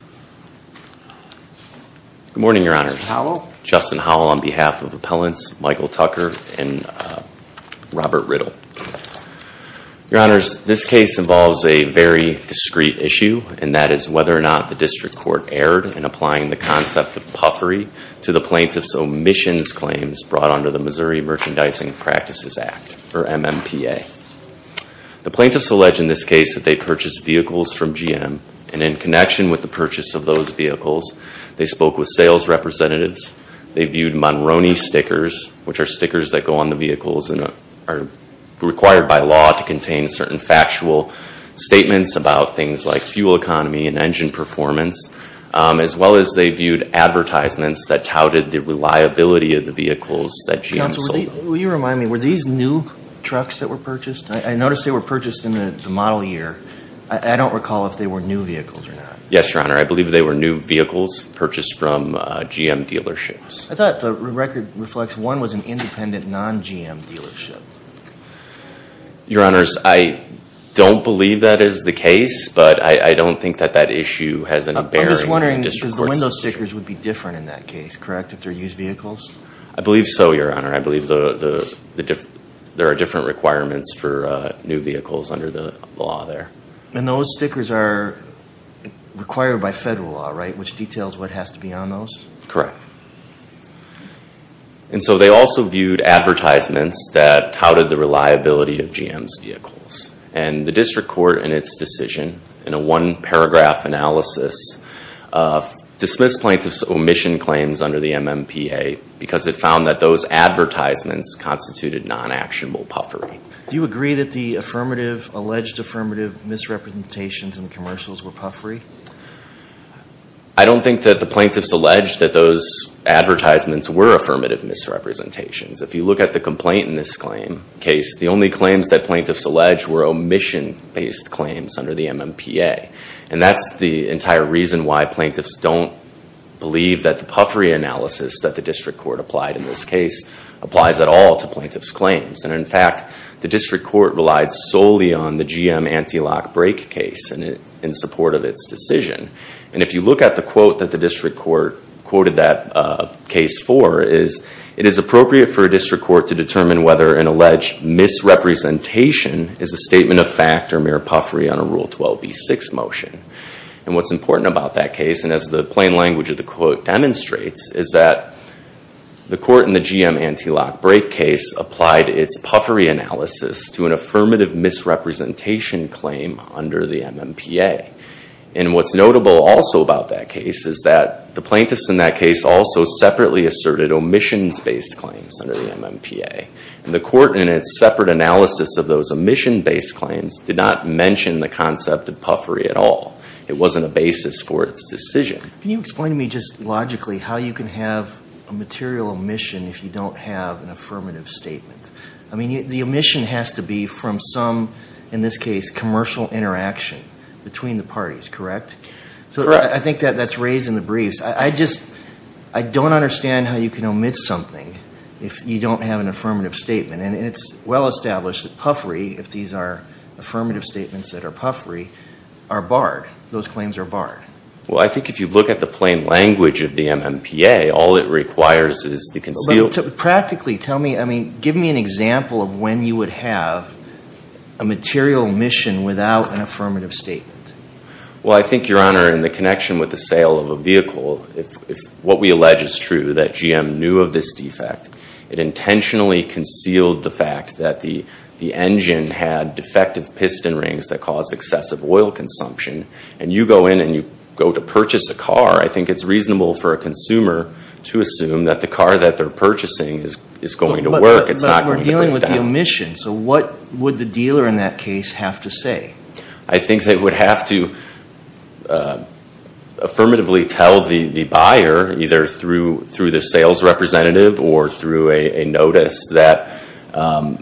Good morning, Your Honors. Justin Howell on behalf of Appellants Michael Tucker and Robert Riddle. Your Honors, this case involves a very discreet issue, and that is whether or not the District Court erred in applying the concept of puffery to the plaintiff's omissions claims brought under the Missouri Merchandising Practices Act, or MMPA. The plaintiffs allege in this case that they purchased vehicles from GM, and in connection with the purchase of those vehicles, they spoke with sales representatives, they viewed Monroney stickers, which are stickers that go on the vehicles and are required by law to contain certain factual statements about things like fuel economy and engine performance, as well as they viewed advertisements that touted the reliability of the vehicles that GM sold. Will you remind me, were these new trucks that were purchased? I noticed they were purchased in the model year. I don't recall if they were new vehicles or not. Yes, Your Honor. I believe they were new vehicles purchased from GM dealerships. I thought the record reflects one was an independent non-GM dealership. Your Honors, I don't believe that is the case, but I don't think that that issue has any bearing on the District Court's decision. I'm just wondering, because the window stickers would be different in that case, correct, if they're used vehicles? I believe so, Your Honor. I believe there are different requirements for new vehicles under the law there. And those stickers are required by federal law, right, which details what has to be on those? Correct. And so they also viewed advertisements that touted the reliability of GM's vehicles. And the District Court, in its decision, in a one-paragraph analysis, dismissed plaintiffs' omission claims under the MMPA because it found that those advertisements constituted non-actionable puffery. Do you agree that the affirmative, alleged affirmative misrepresentations in the commercials were puffery? I don't think that the plaintiffs alleged that those advertisements were affirmative misrepresentations. If you look at the complaint in this case, the only claims that plaintiffs alleged were omission-based claims under the MMPA. And that's the entire reason why plaintiffs don't believe that the puffery analysis that the District Court applied in this case applies at all to plaintiffs' claims. And, in fact, the District Court relied solely on the GM anti-lock brake case in support of its decision. And if you look at the quote that the District Court quoted that case for, it is appropriate for a District Court to determine whether an alleged misrepresentation is a statement of fact or mere puffery on a Rule 12b-6 motion. And what's important about that case, and as the plain language of the quote demonstrates, is that the court in the GM anti-lock brake case applied its puffery analysis to an affirmative misrepresentation claim under the MMPA. And what's notable also about that case is that the plaintiffs in that case also separately asserted omissions-based claims under the MMPA. And the court in its separate analysis of those omission-based claims did not mention the concept of puffery at all. It wasn't a basis for its decision. Can you explain to me just logically how you can have a material omission if you don't have an affirmative statement? I mean, the omission has to be from some, in this case, commercial interaction between the parties, correct? Correct. So I think that's raised in the briefs. I just don't understand how you can omit something if you don't have an affirmative statement. And it's well established that puffery, if these are affirmative statements that are puffery, are barred. Those claims are barred. Well, I think if you look at the plain language of the MMPA, all it requires is the concealed- Practically, give me an example of when you would have a material omission without an affirmative statement. Well, I think, Your Honor, in the connection with the sale of a vehicle, if what we allege is true, that GM knew of this defect, it intentionally concealed the fact that the engine had defective piston rings that caused excessive oil consumption, and you go in and you go to purchase a car, I think it's reasonable for a consumer to assume that the car that they're purchasing is going to work. It's not going to break down. But we're dealing with the omission, so what would the dealer in that case have to say? I think they would have to affirmatively tell the buyer, either through the sales representative or through a notice, that the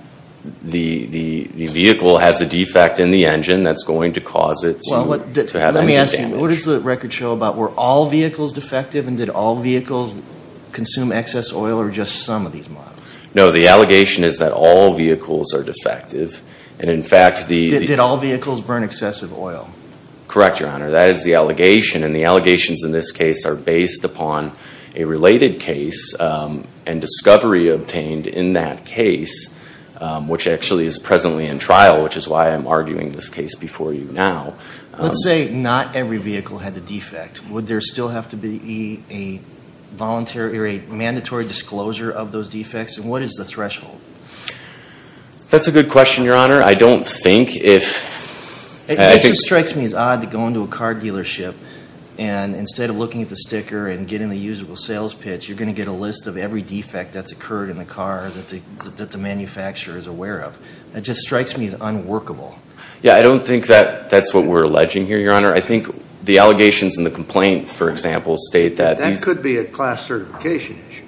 vehicle has a defect in the engine that's going to cause it to have engine damage. Let me ask you, what does the record show about were all vehicles defective, and did all vehicles consume excess oil, or just some of these models? No, the allegation is that all vehicles are defective, and in fact the- Did all vehicles burn excessive oil? Correct, Your Honor. That is the allegation, and the allegations in this case are based upon a related case and discovery obtained in that case, which actually is presently in trial, which is why I'm arguing this case before you now. Let's say not every vehicle had a defect. Would there still have to be a voluntary or a mandatory disclosure of those defects? And what is the threshold? That's a good question, Your Honor. I don't think. It just strikes me as odd to go into a car dealership, and instead of looking at the sticker and getting the usable sales pitch, you're going to get a list of every defect that's occurred in the car that the manufacturer is aware of. That just strikes me as unworkable. Yeah, I don't think that's what we're alleging here, Your Honor. I think the allegations in the complaint, for example, state that these- That could be a class certification issue.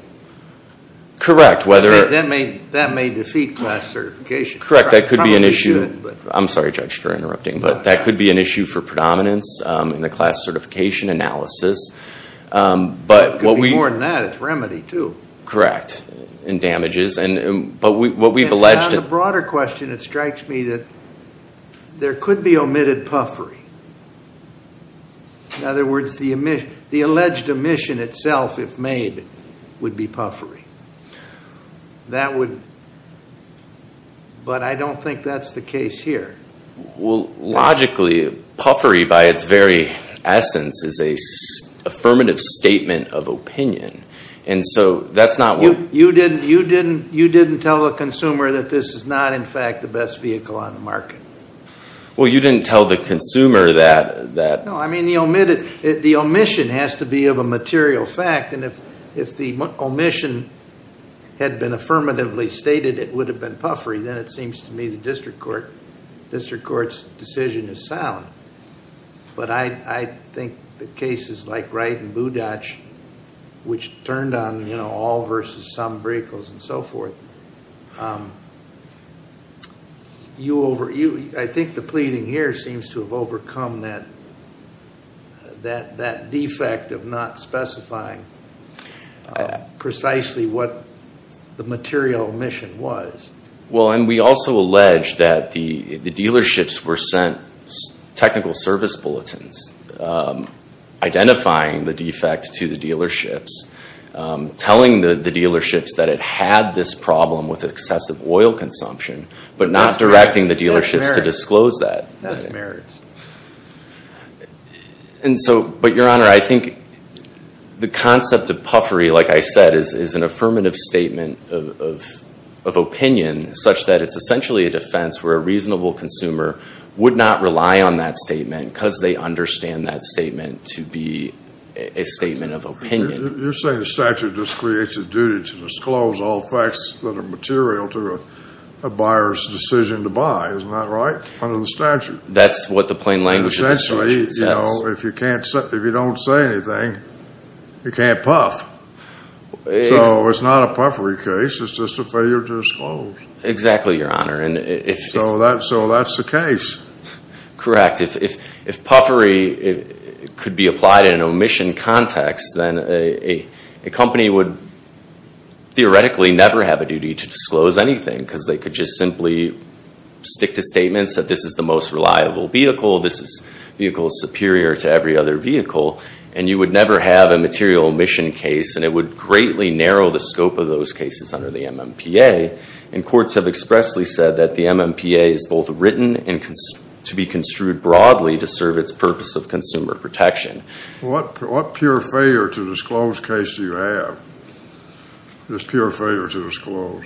Correct, whether- That may defeat class certification. Correct, that could be an issue- Probably should, but- I'm sorry, Judge, for interrupting, but that could be an issue for predominance in the class certification analysis, but what we- It could be more than that. It's remedy, too. Correct, and damages, but what we've alleged- On the broader question, it strikes me that there could be omitted puffery. In other words, the alleged omission itself, if made, would be puffery. That would- But I don't think that's the case here. Well, logically, puffery, by its very essence, is an affirmative statement of opinion, and so that's not what- You didn't tell the consumer that this is not, in fact, the best vehicle on the market. Well, you didn't tell the consumer that- No, I mean, the omission has to be of a material fact, and if the omission had been affirmatively stated, it would have been puffery. Then it seems to me the district court's decision is sound. But I think the cases like Wright and Budach, which turned on all versus some vehicles and so forth, I think the pleading here seems to have overcome that defect of not specifying precisely what the material omission was. Well, and we also allege that the dealerships were sent technical service bulletins, identifying the defect to the dealerships, telling the dealerships that it had this problem with excessive oil consumption, but not directing the dealerships to disclose that. That's merits. But, Your Honor, I think the concept of puffery, like I said, is an affirmative statement of opinion such that it's essentially a defense where a reasonable consumer would not rely on that statement because they understand that statement to be a statement of opinion. You're saying the statute just creates a duty to disclose all facts that are material to a buyer's decision to buy, isn't that right, under the statute? That's what the plain language of the statute says. If you don't say anything, you can't puff. So it's not a puffery case. It's just a failure to disclose. Exactly, Your Honor. So that's the case. Correct. If puffery could be applied in an omission context, then a company would theoretically never have a duty to disclose anything because they could just simply stick to statements that this is the most reliable vehicle, this vehicle is superior to every other vehicle, and you would never have a material omission case, and it would greatly narrow the scope of those cases under the MMPA. And courts have expressly said that the MMPA is both written and to be construed broadly to serve its purpose of consumer protection. What pure failure to disclose case do you have? This pure failure to disclose.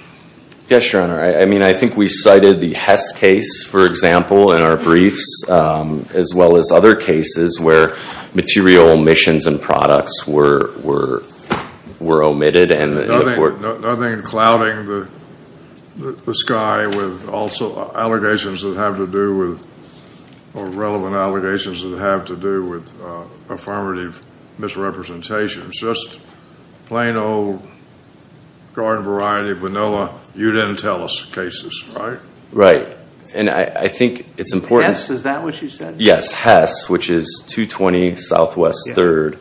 Yes, Your Honor. I mean, I think we cited the Hess case, for example, in our briefs, as well as other cases where material omissions and products were omitted. Nothing clouding the sky with also allegations that have to do with or relevant allegations that have to do with affirmative misrepresentations. Just plain old garden variety, vanilla, you didn't tell us cases, right? Right. And I think it's important. And Hess, is that what you said? Yes, Hess, which is 220 Southwest 3rd.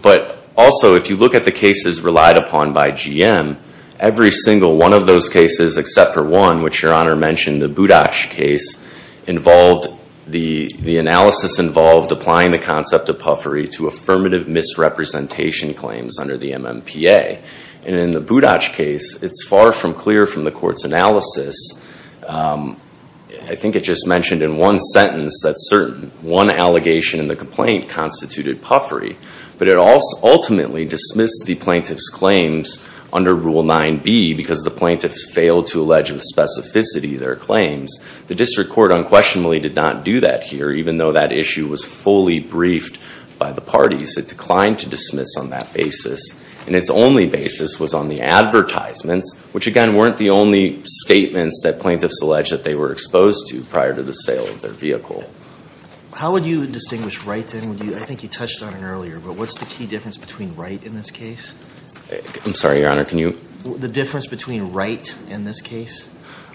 But also, if you look at the cases relied upon by GM, every single one of those cases except for one, which Your Honor mentioned, the Budach case, the analysis involved applying the concept of puffery to affirmative misrepresentation claims under the MMPA. And in the Budach case, it's far from clear from the court's analysis. I think it just mentioned in one sentence that one allegation in the complaint constituted puffery. But it ultimately dismissed the plaintiff's claims under Rule 9b because the plaintiff failed to allege of specificity their claims. The district court unquestionably did not do that here, even though that issue was fully briefed by the parties. It declined to dismiss on that basis. And its only basis was on the advertisements, which, again, weren't the only statements that plaintiffs alleged that they were exposed to prior to the sale of their vehicle. How would you distinguish right, then? I think you touched on it earlier. But what's the key difference between right in this case? I'm sorry, Your Honor, can you? The difference between right in this case.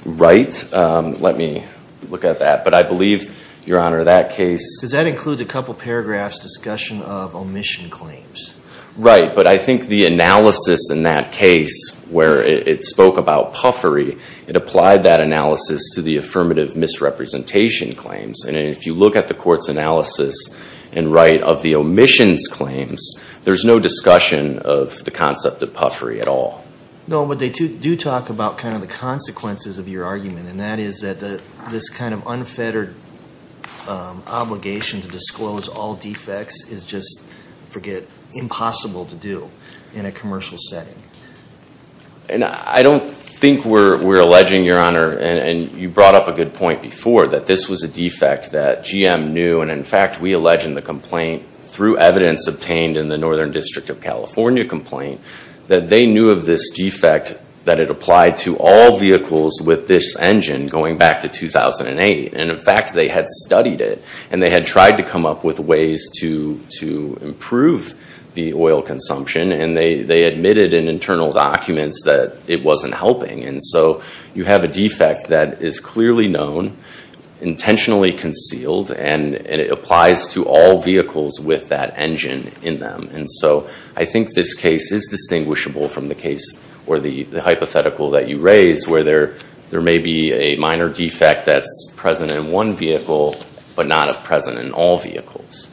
Right? Let me look at that. But I believe, Your Honor, that case. Because that includes a couple paragraphs discussion of omission claims. Right. But I think the analysis in that case where it spoke about puffery, it applied that analysis to the affirmative misrepresentation claims. And if you look at the court's analysis in right of the omissions claims, there's no discussion of the concept of puffery at all. No, but they do talk about kind of the consequences of your argument. And that is that this kind of unfettered obligation to disclose all defects is just, forget, impossible to do in a commercial setting. And I don't think we're alleging, Your Honor, and you brought up a good point before, that this was a defect that GM knew. And, in fact, we allege in the complaint, through evidence obtained in the Northern District of California complaint, that they knew of this defect, that it applied to all vehicles with this engine going back to 2008. And, in fact, they had studied it. And they had tried to come up with ways to improve the oil consumption. And they admitted in internal documents that it wasn't helping. And so you have a defect that is clearly known, intentionally concealed, and it applies to all vehicles with that engine in them. And so I think this case is distinguishable from the case, or the hypothetical that you raised, where there may be a minor defect that's present in one vehicle, but not present in all vehicles.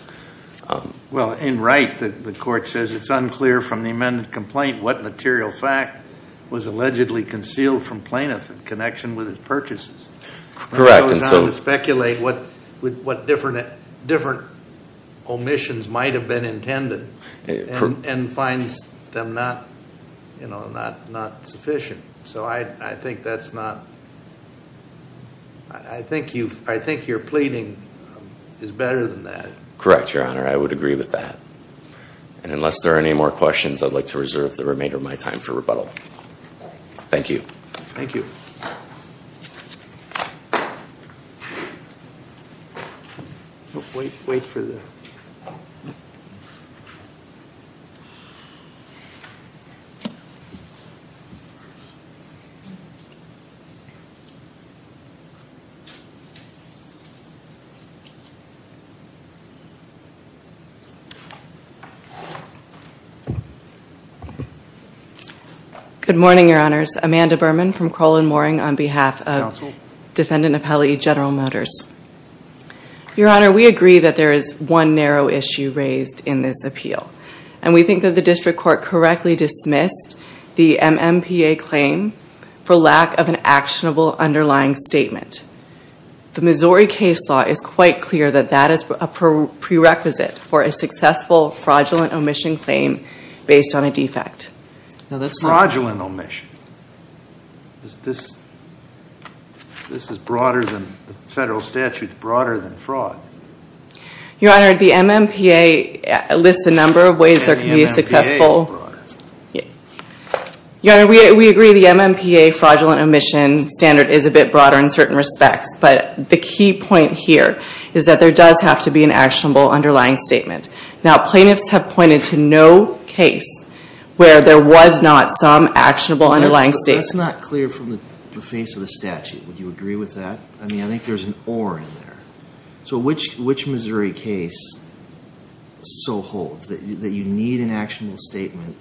Well, in Wright, the court says it's unclear from the amended complaint what material fact was allegedly concealed from plaintiff in connection with his purchases. Correct. It's hard to speculate what different omissions might have been intended and finds them not sufficient. So I think that's not—I think you're pleading is better than that. Correct, Your Honor. I would agree with that. And unless there are any more questions, I'd like to reserve the remainder of my time for rebuttal. Thank you. Thank you. Wait for the— Good morning, Your Honors. Amanda Berman from Crowell & Mooring on behalf of— Counsel. Okay. Defendant Appellee General Motors. Your Honor, we agree that there is one narrow issue raised in this appeal, and we think that the district court correctly dismissed the MMPA claim for lack of an actionable underlying statement. The Missouri case law is quite clear that that is a prerequisite for a successful fraudulent omission claim based on a defect. Fraudulent omission? This is broader than—the federal statute is broader than fraud. Your Honor, the MMPA lists a number of ways there can be a successful— And the MMPA is broader. Your Honor, we agree the MMPA fraudulent omission standard is a bit broader in certain respects, but the key point here is that there does have to be an actionable underlying statement. Now, plaintiffs have pointed to no case where there was not some actionable underlying statement. That's not clear from the face of the statute. Would you agree with that? I mean, I think there's an or in there. So which Missouri case so holds that you need an actionable statement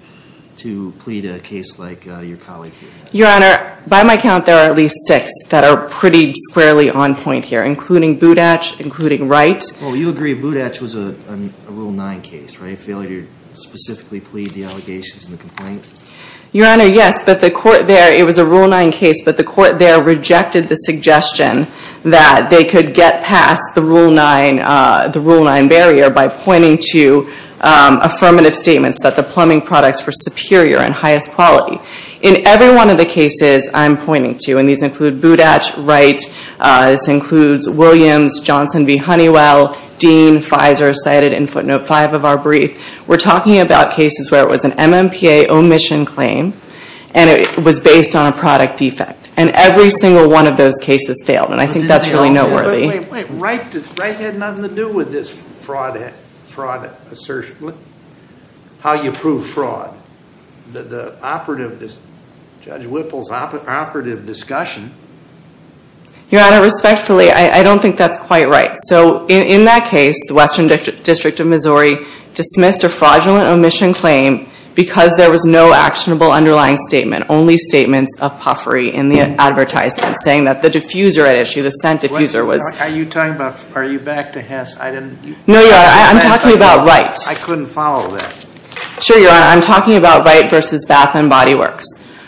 to plead a case like your colleague here? Your Honor, by my count, there are at least six that are pretty squarely on point here, including Budach, including Wright. Well, you agree Budach was a Rule 9 case, right? Failure to specifically plead the allegations in the complaint? Your Honor, yes, but the court there—it was a Rule 9 case, but the court there rejected the suggestion that they could get past the Rule 9 barrier by pointing to affirmative statements that the plumbing products were superior and highest quality. In every one of the cases I'm pointing to, and these include Budach, Wright, this includes Williams, Johnson v. Honeywell, Dean, Fizer cited in footnote 5 of our brief, we're talking about cases where it was an MMPA omission claim and it was based on a product defect. And every single one of those cases failed, and I think that's really noteworthy. Wait, Wright had nothing to do with this fraud assertion. How do you prove fraud? The operative—Judge Whipple's operative discussion. Your Honor, respectfully, I don't think that's quite right. So in that case, the Western District of Missouri dismissed a fraudulent omission claim because there was no actionable underlying statement, only statements of puffery in the advertisement saying that the diffuser at issue, the scent diffuser was— Are you talking about—are you back to Hess? No, Your Honor, I'm talking about Wright. I couldn't follow that. Sure, Your Honor, I'm talking about Wright v. Bath & Body Works.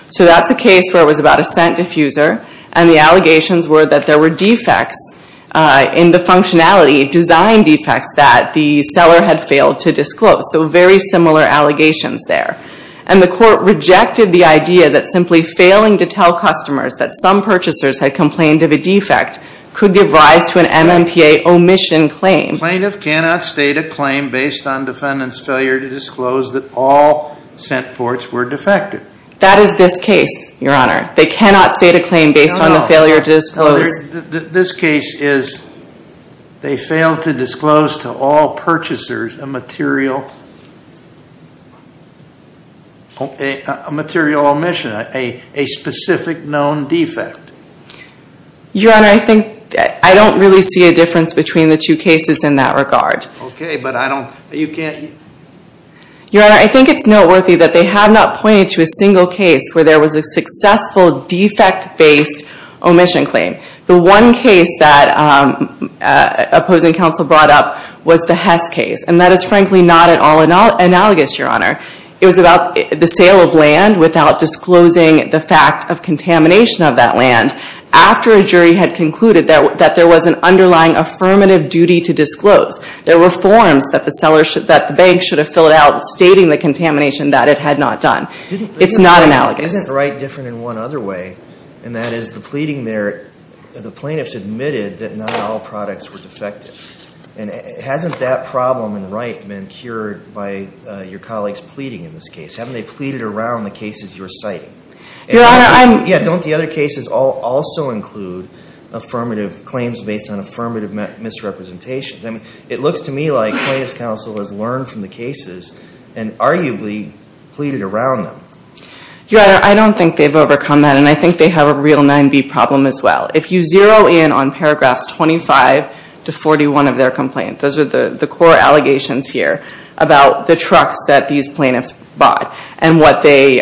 So that's a case where it was about a scent diffuser, and the allegations were that there were defects in the functionality, design defects that the seller had failed to disclose. So very similar allegations there. And the court rejected the idea that simply failing to tell customers that some purchasers had complained of a defect could give rise to an MMPA omission claim. The plaintiff cannot state a claim based on defendant's failure to disclose that all scent ports were defective. That is this case, Your Honor. They cannot state a claim based on the failure to disclose. This case is they failed to disclose to all purchasers a material omission, a specific known defect. Your Honor, I don't really see a difference between the two cases in that regard. Okay, but I don't—you can't— Your Honor, I think it's noteworthy that they have not pointed to a single case where there was a successful defect-based omission claim. The one case that opposing counsel brought up was the Hess case, and that is frankly not at all analogous, Your Honor. It was about the sale of land without disclosing the fact of contamination of that land after a jury had concluded that there was an underlying affirmative duty to disclose. There were forms that the bank should have filled out stating the contamination that it had not done. It's not analogous. Isn't Wright different in one other way, and that is the pleading there, the plaintiffs admitted that not all products were defective. Hasn't that problem in Wright been cured by your colleagues pleading in this case? Haven't they pleaded around the cases you're citing? Your Honor, I'm— Yeah, don't the other cases also include affirmative claims based on affirmative misrepresentations? I mean, it looks to me like plaintiff's counsel has learned from the cases and arguably pleaded around them. Your Honor, I don't think they've overcome that, and I think they have a real 9B problem as well. If you zero in on paragraphs 25 to 41 of their complaint, those are the core allegations here about the trucks that these plaintiffs bought and what the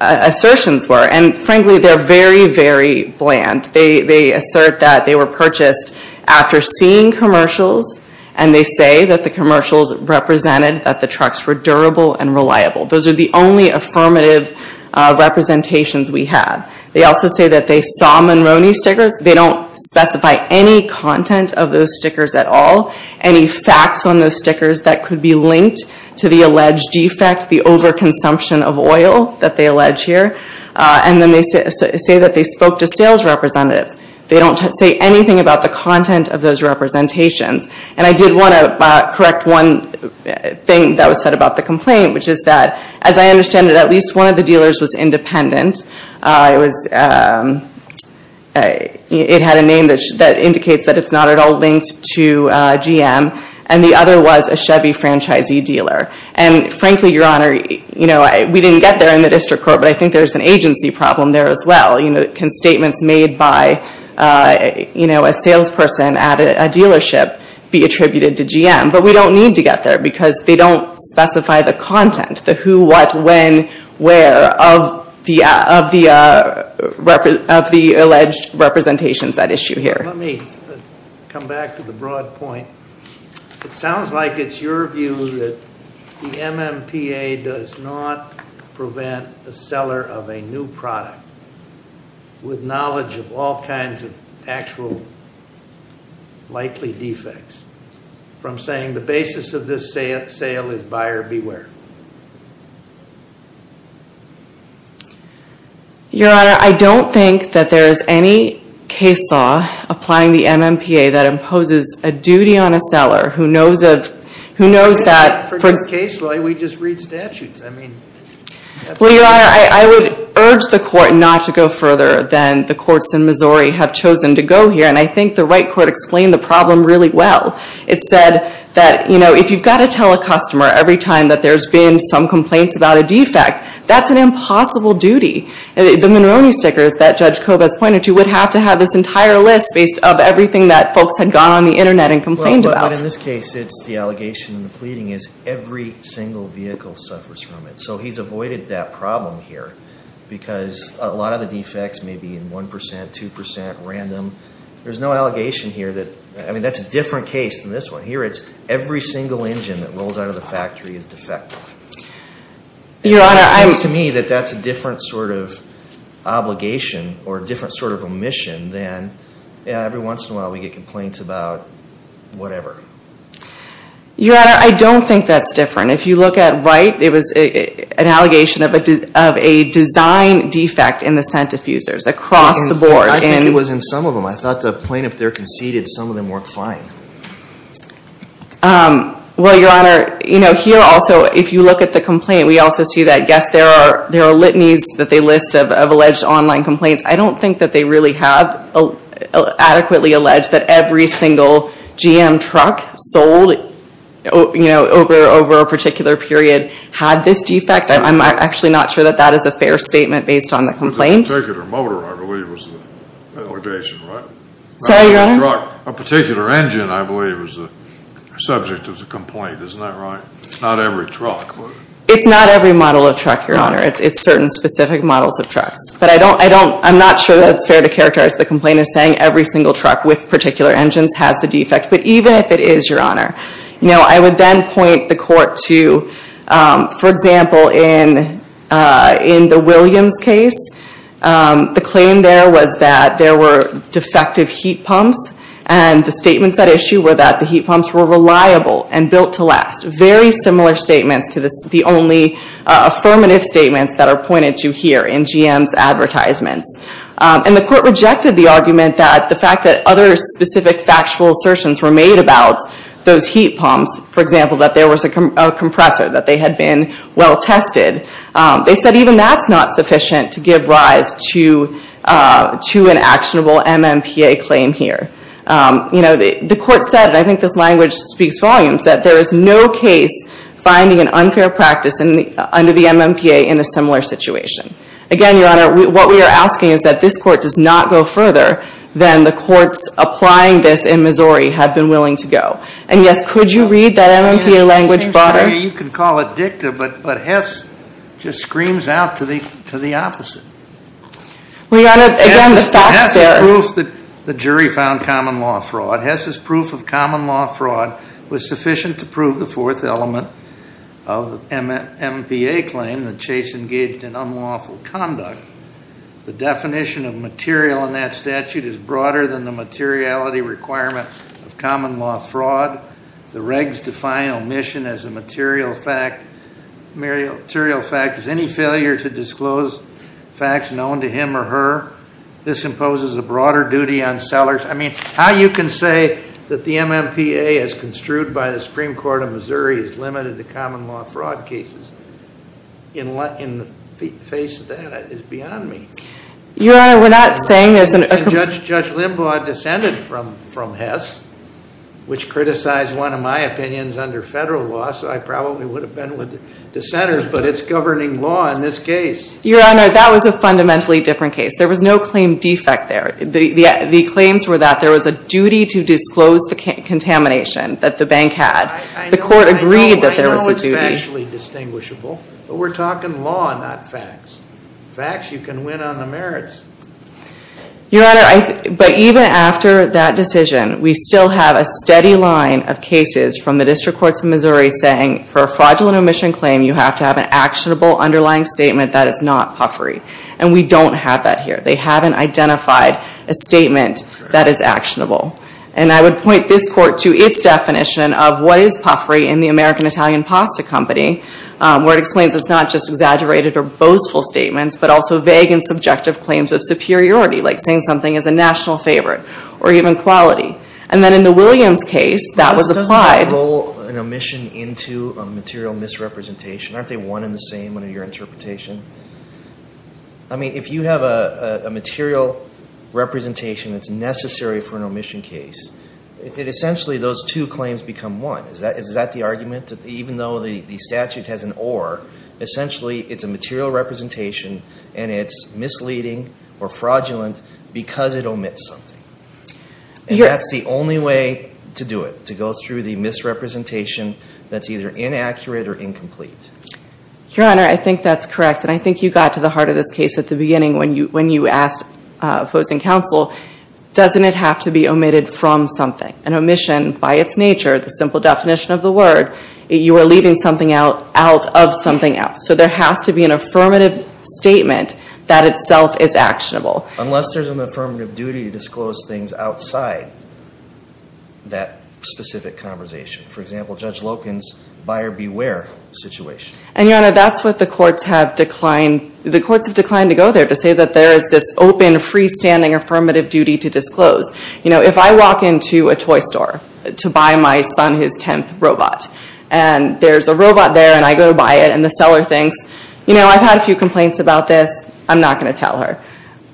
assertions were. And frankly, they're very, very bland. They assert that they were purchased after seeing commercials, and they say that the commercials represented that the trucks were durable and reliable. Those are the only affirmative representations we have. They also say that they saw Monroney stickers. They don't specify any content of those stickers at all, any facts on those stickers that could be linked to the alleged defect, the overconsumption of oil that they allege here. And then they say that they spoke to sales representatives. They don't say anything about the content of those representations. And I did want to correct one thing that was said about the complaint, which is that, as I understand it, at least one of the dealers was independent. It had a name that indicates that it's not at all linked to GM, and the other was a Chevy franchisee dealer. And frankly, Your Honor, we didn't get there in the district court, but I think there's an agency problem there as well. Can statements made by a salesperson at a dealership be attributed to GM? But we don't need to get there because they don't specify the content, the who, what, when, where of the alleged representations at issue here. Let me come back to the broad point. It sounds like it's your view that the MMPA does not prevent the seller of a new product with knowledge of all kinds of actual likely defects from saying the basis of this sale is buyer beware. Your Honor, I don't think that there is any case law applying the MMPA that imposes a duty on a seller who knows that... For this case law, we just read statutes. Well, Your Honor, I would urge the court not to go further than the courts in Missouri have chosen to go here, and I think the right court explained the problem really well. It said that if you've got to tell a customer every time that there's been some complaints about a defect, that's an impossible duty. The Monroney stickers that Judge Coba has pointed to would have to have this entire list based on everything that folks had gone on the Internet and complained about. Well, but in this case, it's the allegation and the pleading is every single vehicle suffers from it. So he's avoided that problem here because a lot of the defects may be in 1%, 2%, random. There's no allegation here that... I mean, that's a different case than this one. Here it's every single engine that rolls out of the factory is defective. Your Honor, I... It seems to me that that's a different sort of obligation or a different sort of omission than every once in a while we get complaints about whatever. Your Honor, I don't think that's different. If you look at Wright, it was an allegation of a design defect in the scent diffusers across the board. I think it was in some of them. I thought the plaintiff there conceded some of them worked fine. Well, Your Honor, you know, here also, if you look at the complaint, we also see that, yes, there are litanies that they list of alleged online complaints. I don't think that they really have adequately alleged that every single GM truck sold, you know, over a particular period had this defect. I'm actually not sure that that is a fair statement based on the complaint. But the particular motor, I believe, was the allegation, right? Sorry, Your Honor? A particular engine, I believe, was the subject of the complaint. Isn't that right? Not every truck, but... It's not every model of truck, Your Honor. It's certain specific models of trucks. But I don't... I'm not sure that it's fair to characterize the complaint as saying every single truck with particular engines has the defect. But even if it is, Your Honor, you know, I would then point the court to, for example, in the Williams case, the claim there was that there were defective heat pumps. And the statements at issue were that the heat pumps were reliable and built to last. Very similar statements to the only affirmative statements that are pointed to here in GM's advertisements. And the court rejected the argument that the fact that other specific factual assertions were made about those heat pumps, for example, that there was a compressor, that they had been well tested. They said even that's not sufficient to give rise to an actionable MMPA claim here. You know, the court said, and I think this language speaks volumes, that there is no case finding an unfair practice under the MMPA in a similar situation. Again, Your Honor, what we are asking is that this court does not go further than the courts applying this in Missouri have been willing to go. And, yes, could you read that MMPA language better? You can call it dicta, but Hess just screams out to the opposite. Well, Your Honor, again, the facts there. Hess's proof that the jury found common law fraud, Hess's proof of common law fraud was sufficient to prove the fourth element of the MMPA claim that Chase engaged in unlawful conduct. The definition of material in that statute is broader than the materiality requirement of common law fraud. The regs define omission as a material fact. Is any failure to disclose facts known to him or her? This imposes a broader duty on sellers. I mean, how you can say that the MMPA, as construed by the Supreme Court of Missouri, is limited to common law fraud cases in the face of that is beyond me. Your Honor, we're not saying there's an – Judge Limbaugh descended from Hess, which criticized one of my opinions under federal law, so I probably would have been with dissenters, but it's governing law in this case. Your Honor, that was a fundamentally different case. There was no claim defect there. The claims were that there was a duty to disclose the contamination that the bank had. The court agreed that there was a duty. I know it's factually distinguishable, but we're talking law, not facts. Facts, you can win on the merits. Your Honor, but even after that decision, we still have a steady line of cases from the district courts of Missouri saying, for a fraudulent omission claim, you have to have an actionable underlying statement that is not puffery. And we don't have that here. They haven't identified a statement that is actionable. And I would point this court to its definition of what is puffery in the American Italian Pasta Company, where it explains it's not just exaggerated or boastful statements, but also vague and subjective claims of superiority, like saying something is a national favorite or even quality. And then in the Williams case, that was applied. But this doesn't roll an omission into a material misrepresentation. Aren't they one and the same in your interpretation? I mean, if you have a material representation that's necessary for an omission case, essentially those two claims become one. Is that the argument, that even though the statute has an or, essentially it's a material representation and it's misleading or fraudulent because it omits something. And that's the only way to do it, to go through the misrepresentation that's either inaccurate or incomplete. Your Honor, I think that's correct. And I think you got to the heart of this case at the beginning when you asked opposing counsel, doesn't it have to be omitted from something? An omission, by its nature, the simple definition of the word, you are leaving something out of something else. So there has to be an affirmative statement that itself is actionable. Unless there's an affirmative duty to disclose things outside that specific conversation. For example, Judge Loken's buyer beware situation. And Your Honor, that's what the courts have declined to go there, to say that there is this open, freestanding, affirmative duty to disclose. You know, if I walk into a toy store to buy my son his tenth robot. And there's a robot there and I go by it and the seller thinks, you know, I've had a few complaints about this, I'm not going to tell her.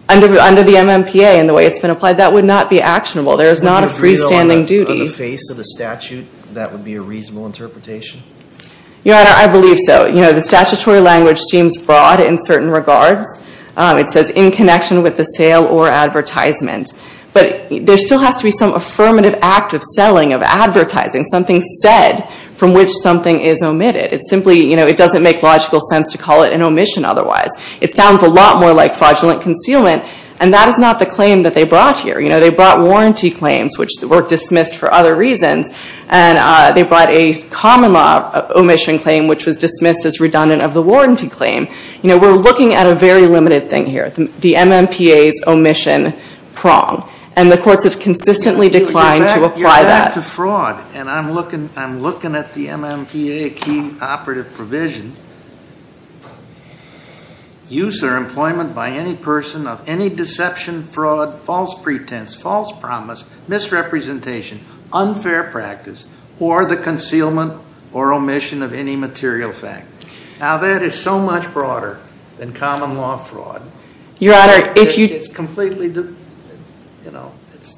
Under the MMPA and the way it's been applied, that would not be actionable. There is not a freestanding duty. Would you agree on the face of the statute that would be a reasonable interpretation? Your Honor, I believe so. You know, the statutory language seems broad in certain regards. It says, in connection with the sale or advertisement. But there still has to be some affirmative act of selling, of advertising, something said from which something is omitted. It simply, you know, it doesn't make logical sense to call it an omission otherwise. It sounds a lot more like fraudulent concealment. And that is not the claim that they brought here. You know, they brought warranty claims, which were dismissed for other reasons. And they brought a common law omission claim, which was dismissed as redundant of the warranty claim. You know, we're looking at a very limited thing here. The MMPA's omission prong. And the courts have consistently declined to apply that. You're back to fraud. And I'm looking at the MMPA key operative provision. Use or employment by any person of any deception, fraud, false pretense, false promise, misrepresentation, unfair practice, or the concealment or omission of any material fact. Now, that is so much broader than common law fraud. Your Honor, if you. It's completely, you know, it's.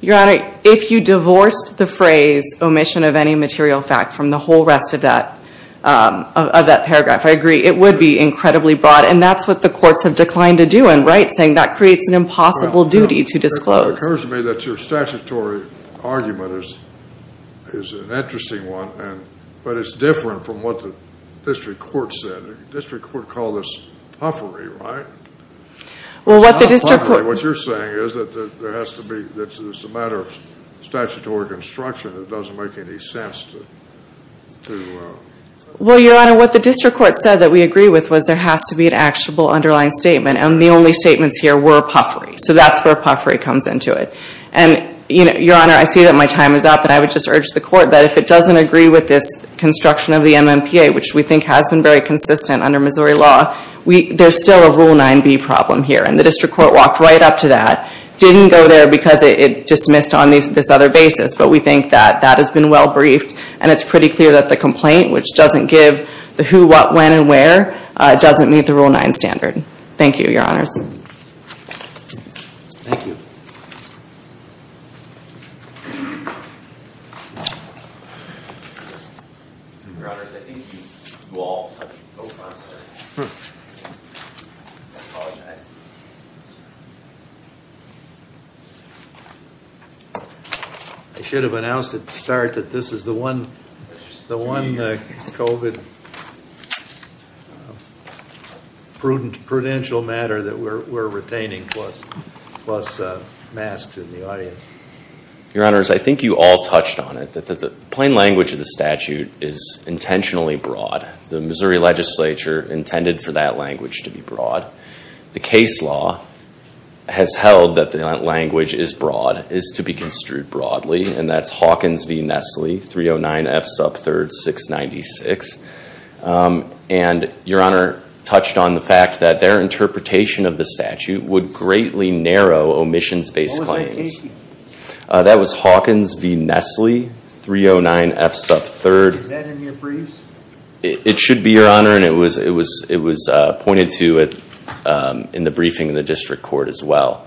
Your Honor, if you divorced the phrase omission of any material fact from the whole rest of that paragraph, I agree. It would be incredibly broad. And that's what the courts have declined to do. And Wright's saying that creates an impossible duty to disclose. It occurs to me that your statutory argument is an interesting one. But it's different from what the district court said. The district court called this puffery, right? Well, what the district court. It's not puffery. What you're saying is that there has to be, that it's a matter of statutory construction. It doesn't make any sense to. Well, Your Honor, what the district court said that we agree with was there has to be an actionable underlying statement. And the only statements here were puffery. So that's where puffery comes into it. And, you know, Your Honor, I see that my time is up. And I would just urge the court that if it doesn't agree with this construction of the MMPA, which we think has been very consistent under Missouri law, there's still a Rule 9b problem here. And the district court walked right up to that. Didn't go there because it dismissed on this other basis. But we think that that has been well briefed. And it's pretty clear that the complaint, which doesn't give the who, what, when, and where, doesn't meet the Rule 9 standard. Thank you, Your Honors. Thank you. I should have announced it to start that this is the one. The one COVID prudential matter that we're retaining plus masks in the audience. Your Honors, I think you all touched on it, that the plain language of the statute is intentionally broad. The Missouri legislature intended for that language to be broad. The case law has held that the language is broad, is to be construed broadly. And that's Hawkins v. Nestle, 309F sub 3rd, 696. And Your Honor touched on the fact that their interpretation of the statute would greatly narrow omissions-based claims. What was that case? That was Hawkins v. Nestle, 309F sub 3rd. Is that in your briefs? It should be, Your Honor. And it was pointed to in the briefing in the district court as well.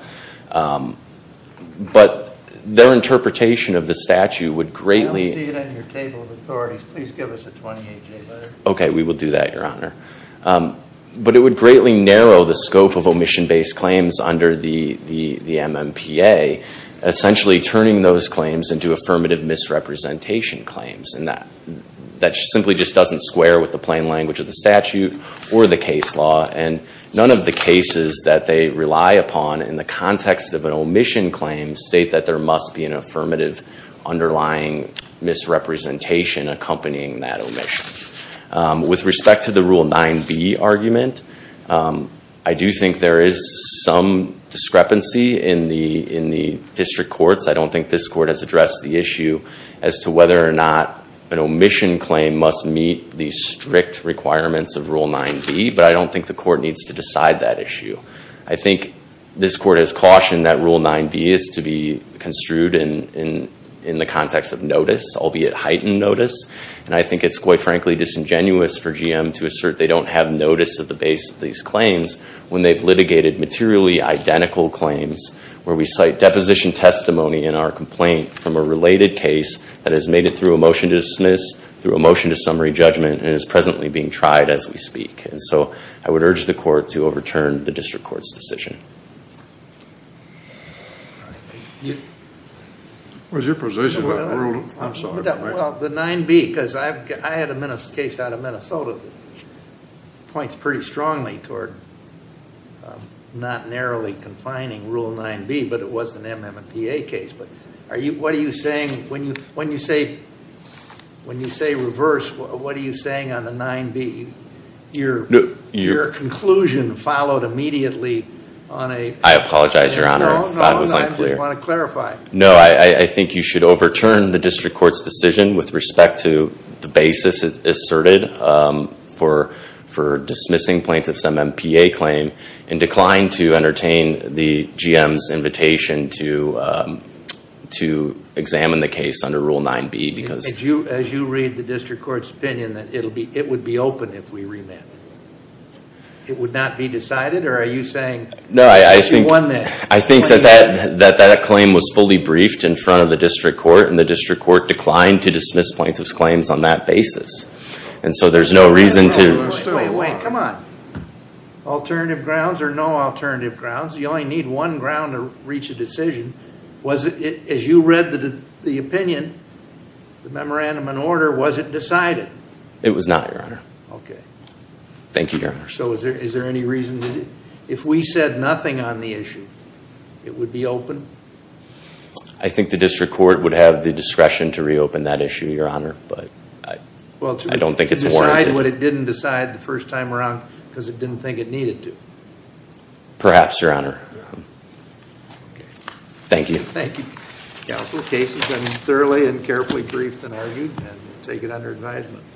But their interpretation of the statute would greatly... I don't see it in your table of authorities. Please give us a 28-day letter. Okay, we will do that, Your Honor. But it would greatly narrow the scope of omission-based claims under the MMPA, essentially turning those claims into affirmative misrepresentation claims. And that simply just doesn't square with the plain language of the statute or the case law. And none of the cases that they rely upon in the context of an omission claim state that there must be an affirmative underlying misrepresentation accompanying that omission. With respect to the Rule 9b argument, I do think there is some discrepancy in the district courts. I don't think this court has addressed the issue as to whether or not an omission claim must meet the strict requirements of Rule 9b. But I don't think the court needs to decide that issue. I think this court has cautioned that Rule 9b is to be construed in the context of notice, albeit heightened notice. And I think it's quite frankly disingenuous for GM to assert they don't have notice at the base of these claims when they've litigated materially identical claims where we cite deposition testimony in our complaint from a related case that has made it through a motion to dismiss, through a motion to summary judgment, and is presently being tried as we speak. And so I would urge the court to overturn the district court's decision. Was your position on Rule 9b? Well, the 9b, because I had a case out of Minnesota that points pretty strongly toward not narrowly confining Rule 9b, but it was an MMPA case. What are you saying? When you say reverse, what are you saying on the 9b? Your conclusion followed immediately on a- I apologize, Your Honor, if that was unclear. No, no, I just want to clarify. No, I think you should overturn the district court's decision with respect to the basis asserted for dismissing plaintiffs' MMPA claim and declined to entertain the GM's invitation to examine the case under Rule 9b. As you read the district court's opinion, it would be open if we remit. It would not be decided, or are you saying- No, I think that that claim was fully briefed in front of the district court, and the district court declined to dismiss plaintiffs' claims on that basis. And so there's no reason to- Wait, wait, come on. Alternative grounds or no alternative grounds? You only need one ground to reach a decision. As you read the opinion, the memorandum in order, was it decided? It was not, Your Honor. Okay. Thank you, Your Honor. So is there any reason to- If we said nothing on the issue, it would be open? I think the district court would have the discretion to reopen that issue, Your Honor. But I don't think it's warranted. Well, to decide what it didn't decide the first time around because it didn't think it needed to. Perhaps, Your Honor. Thank you. Thank you, counsel. The case has been thoroughly and carefully briefed and argued, and we'll take it under advisement.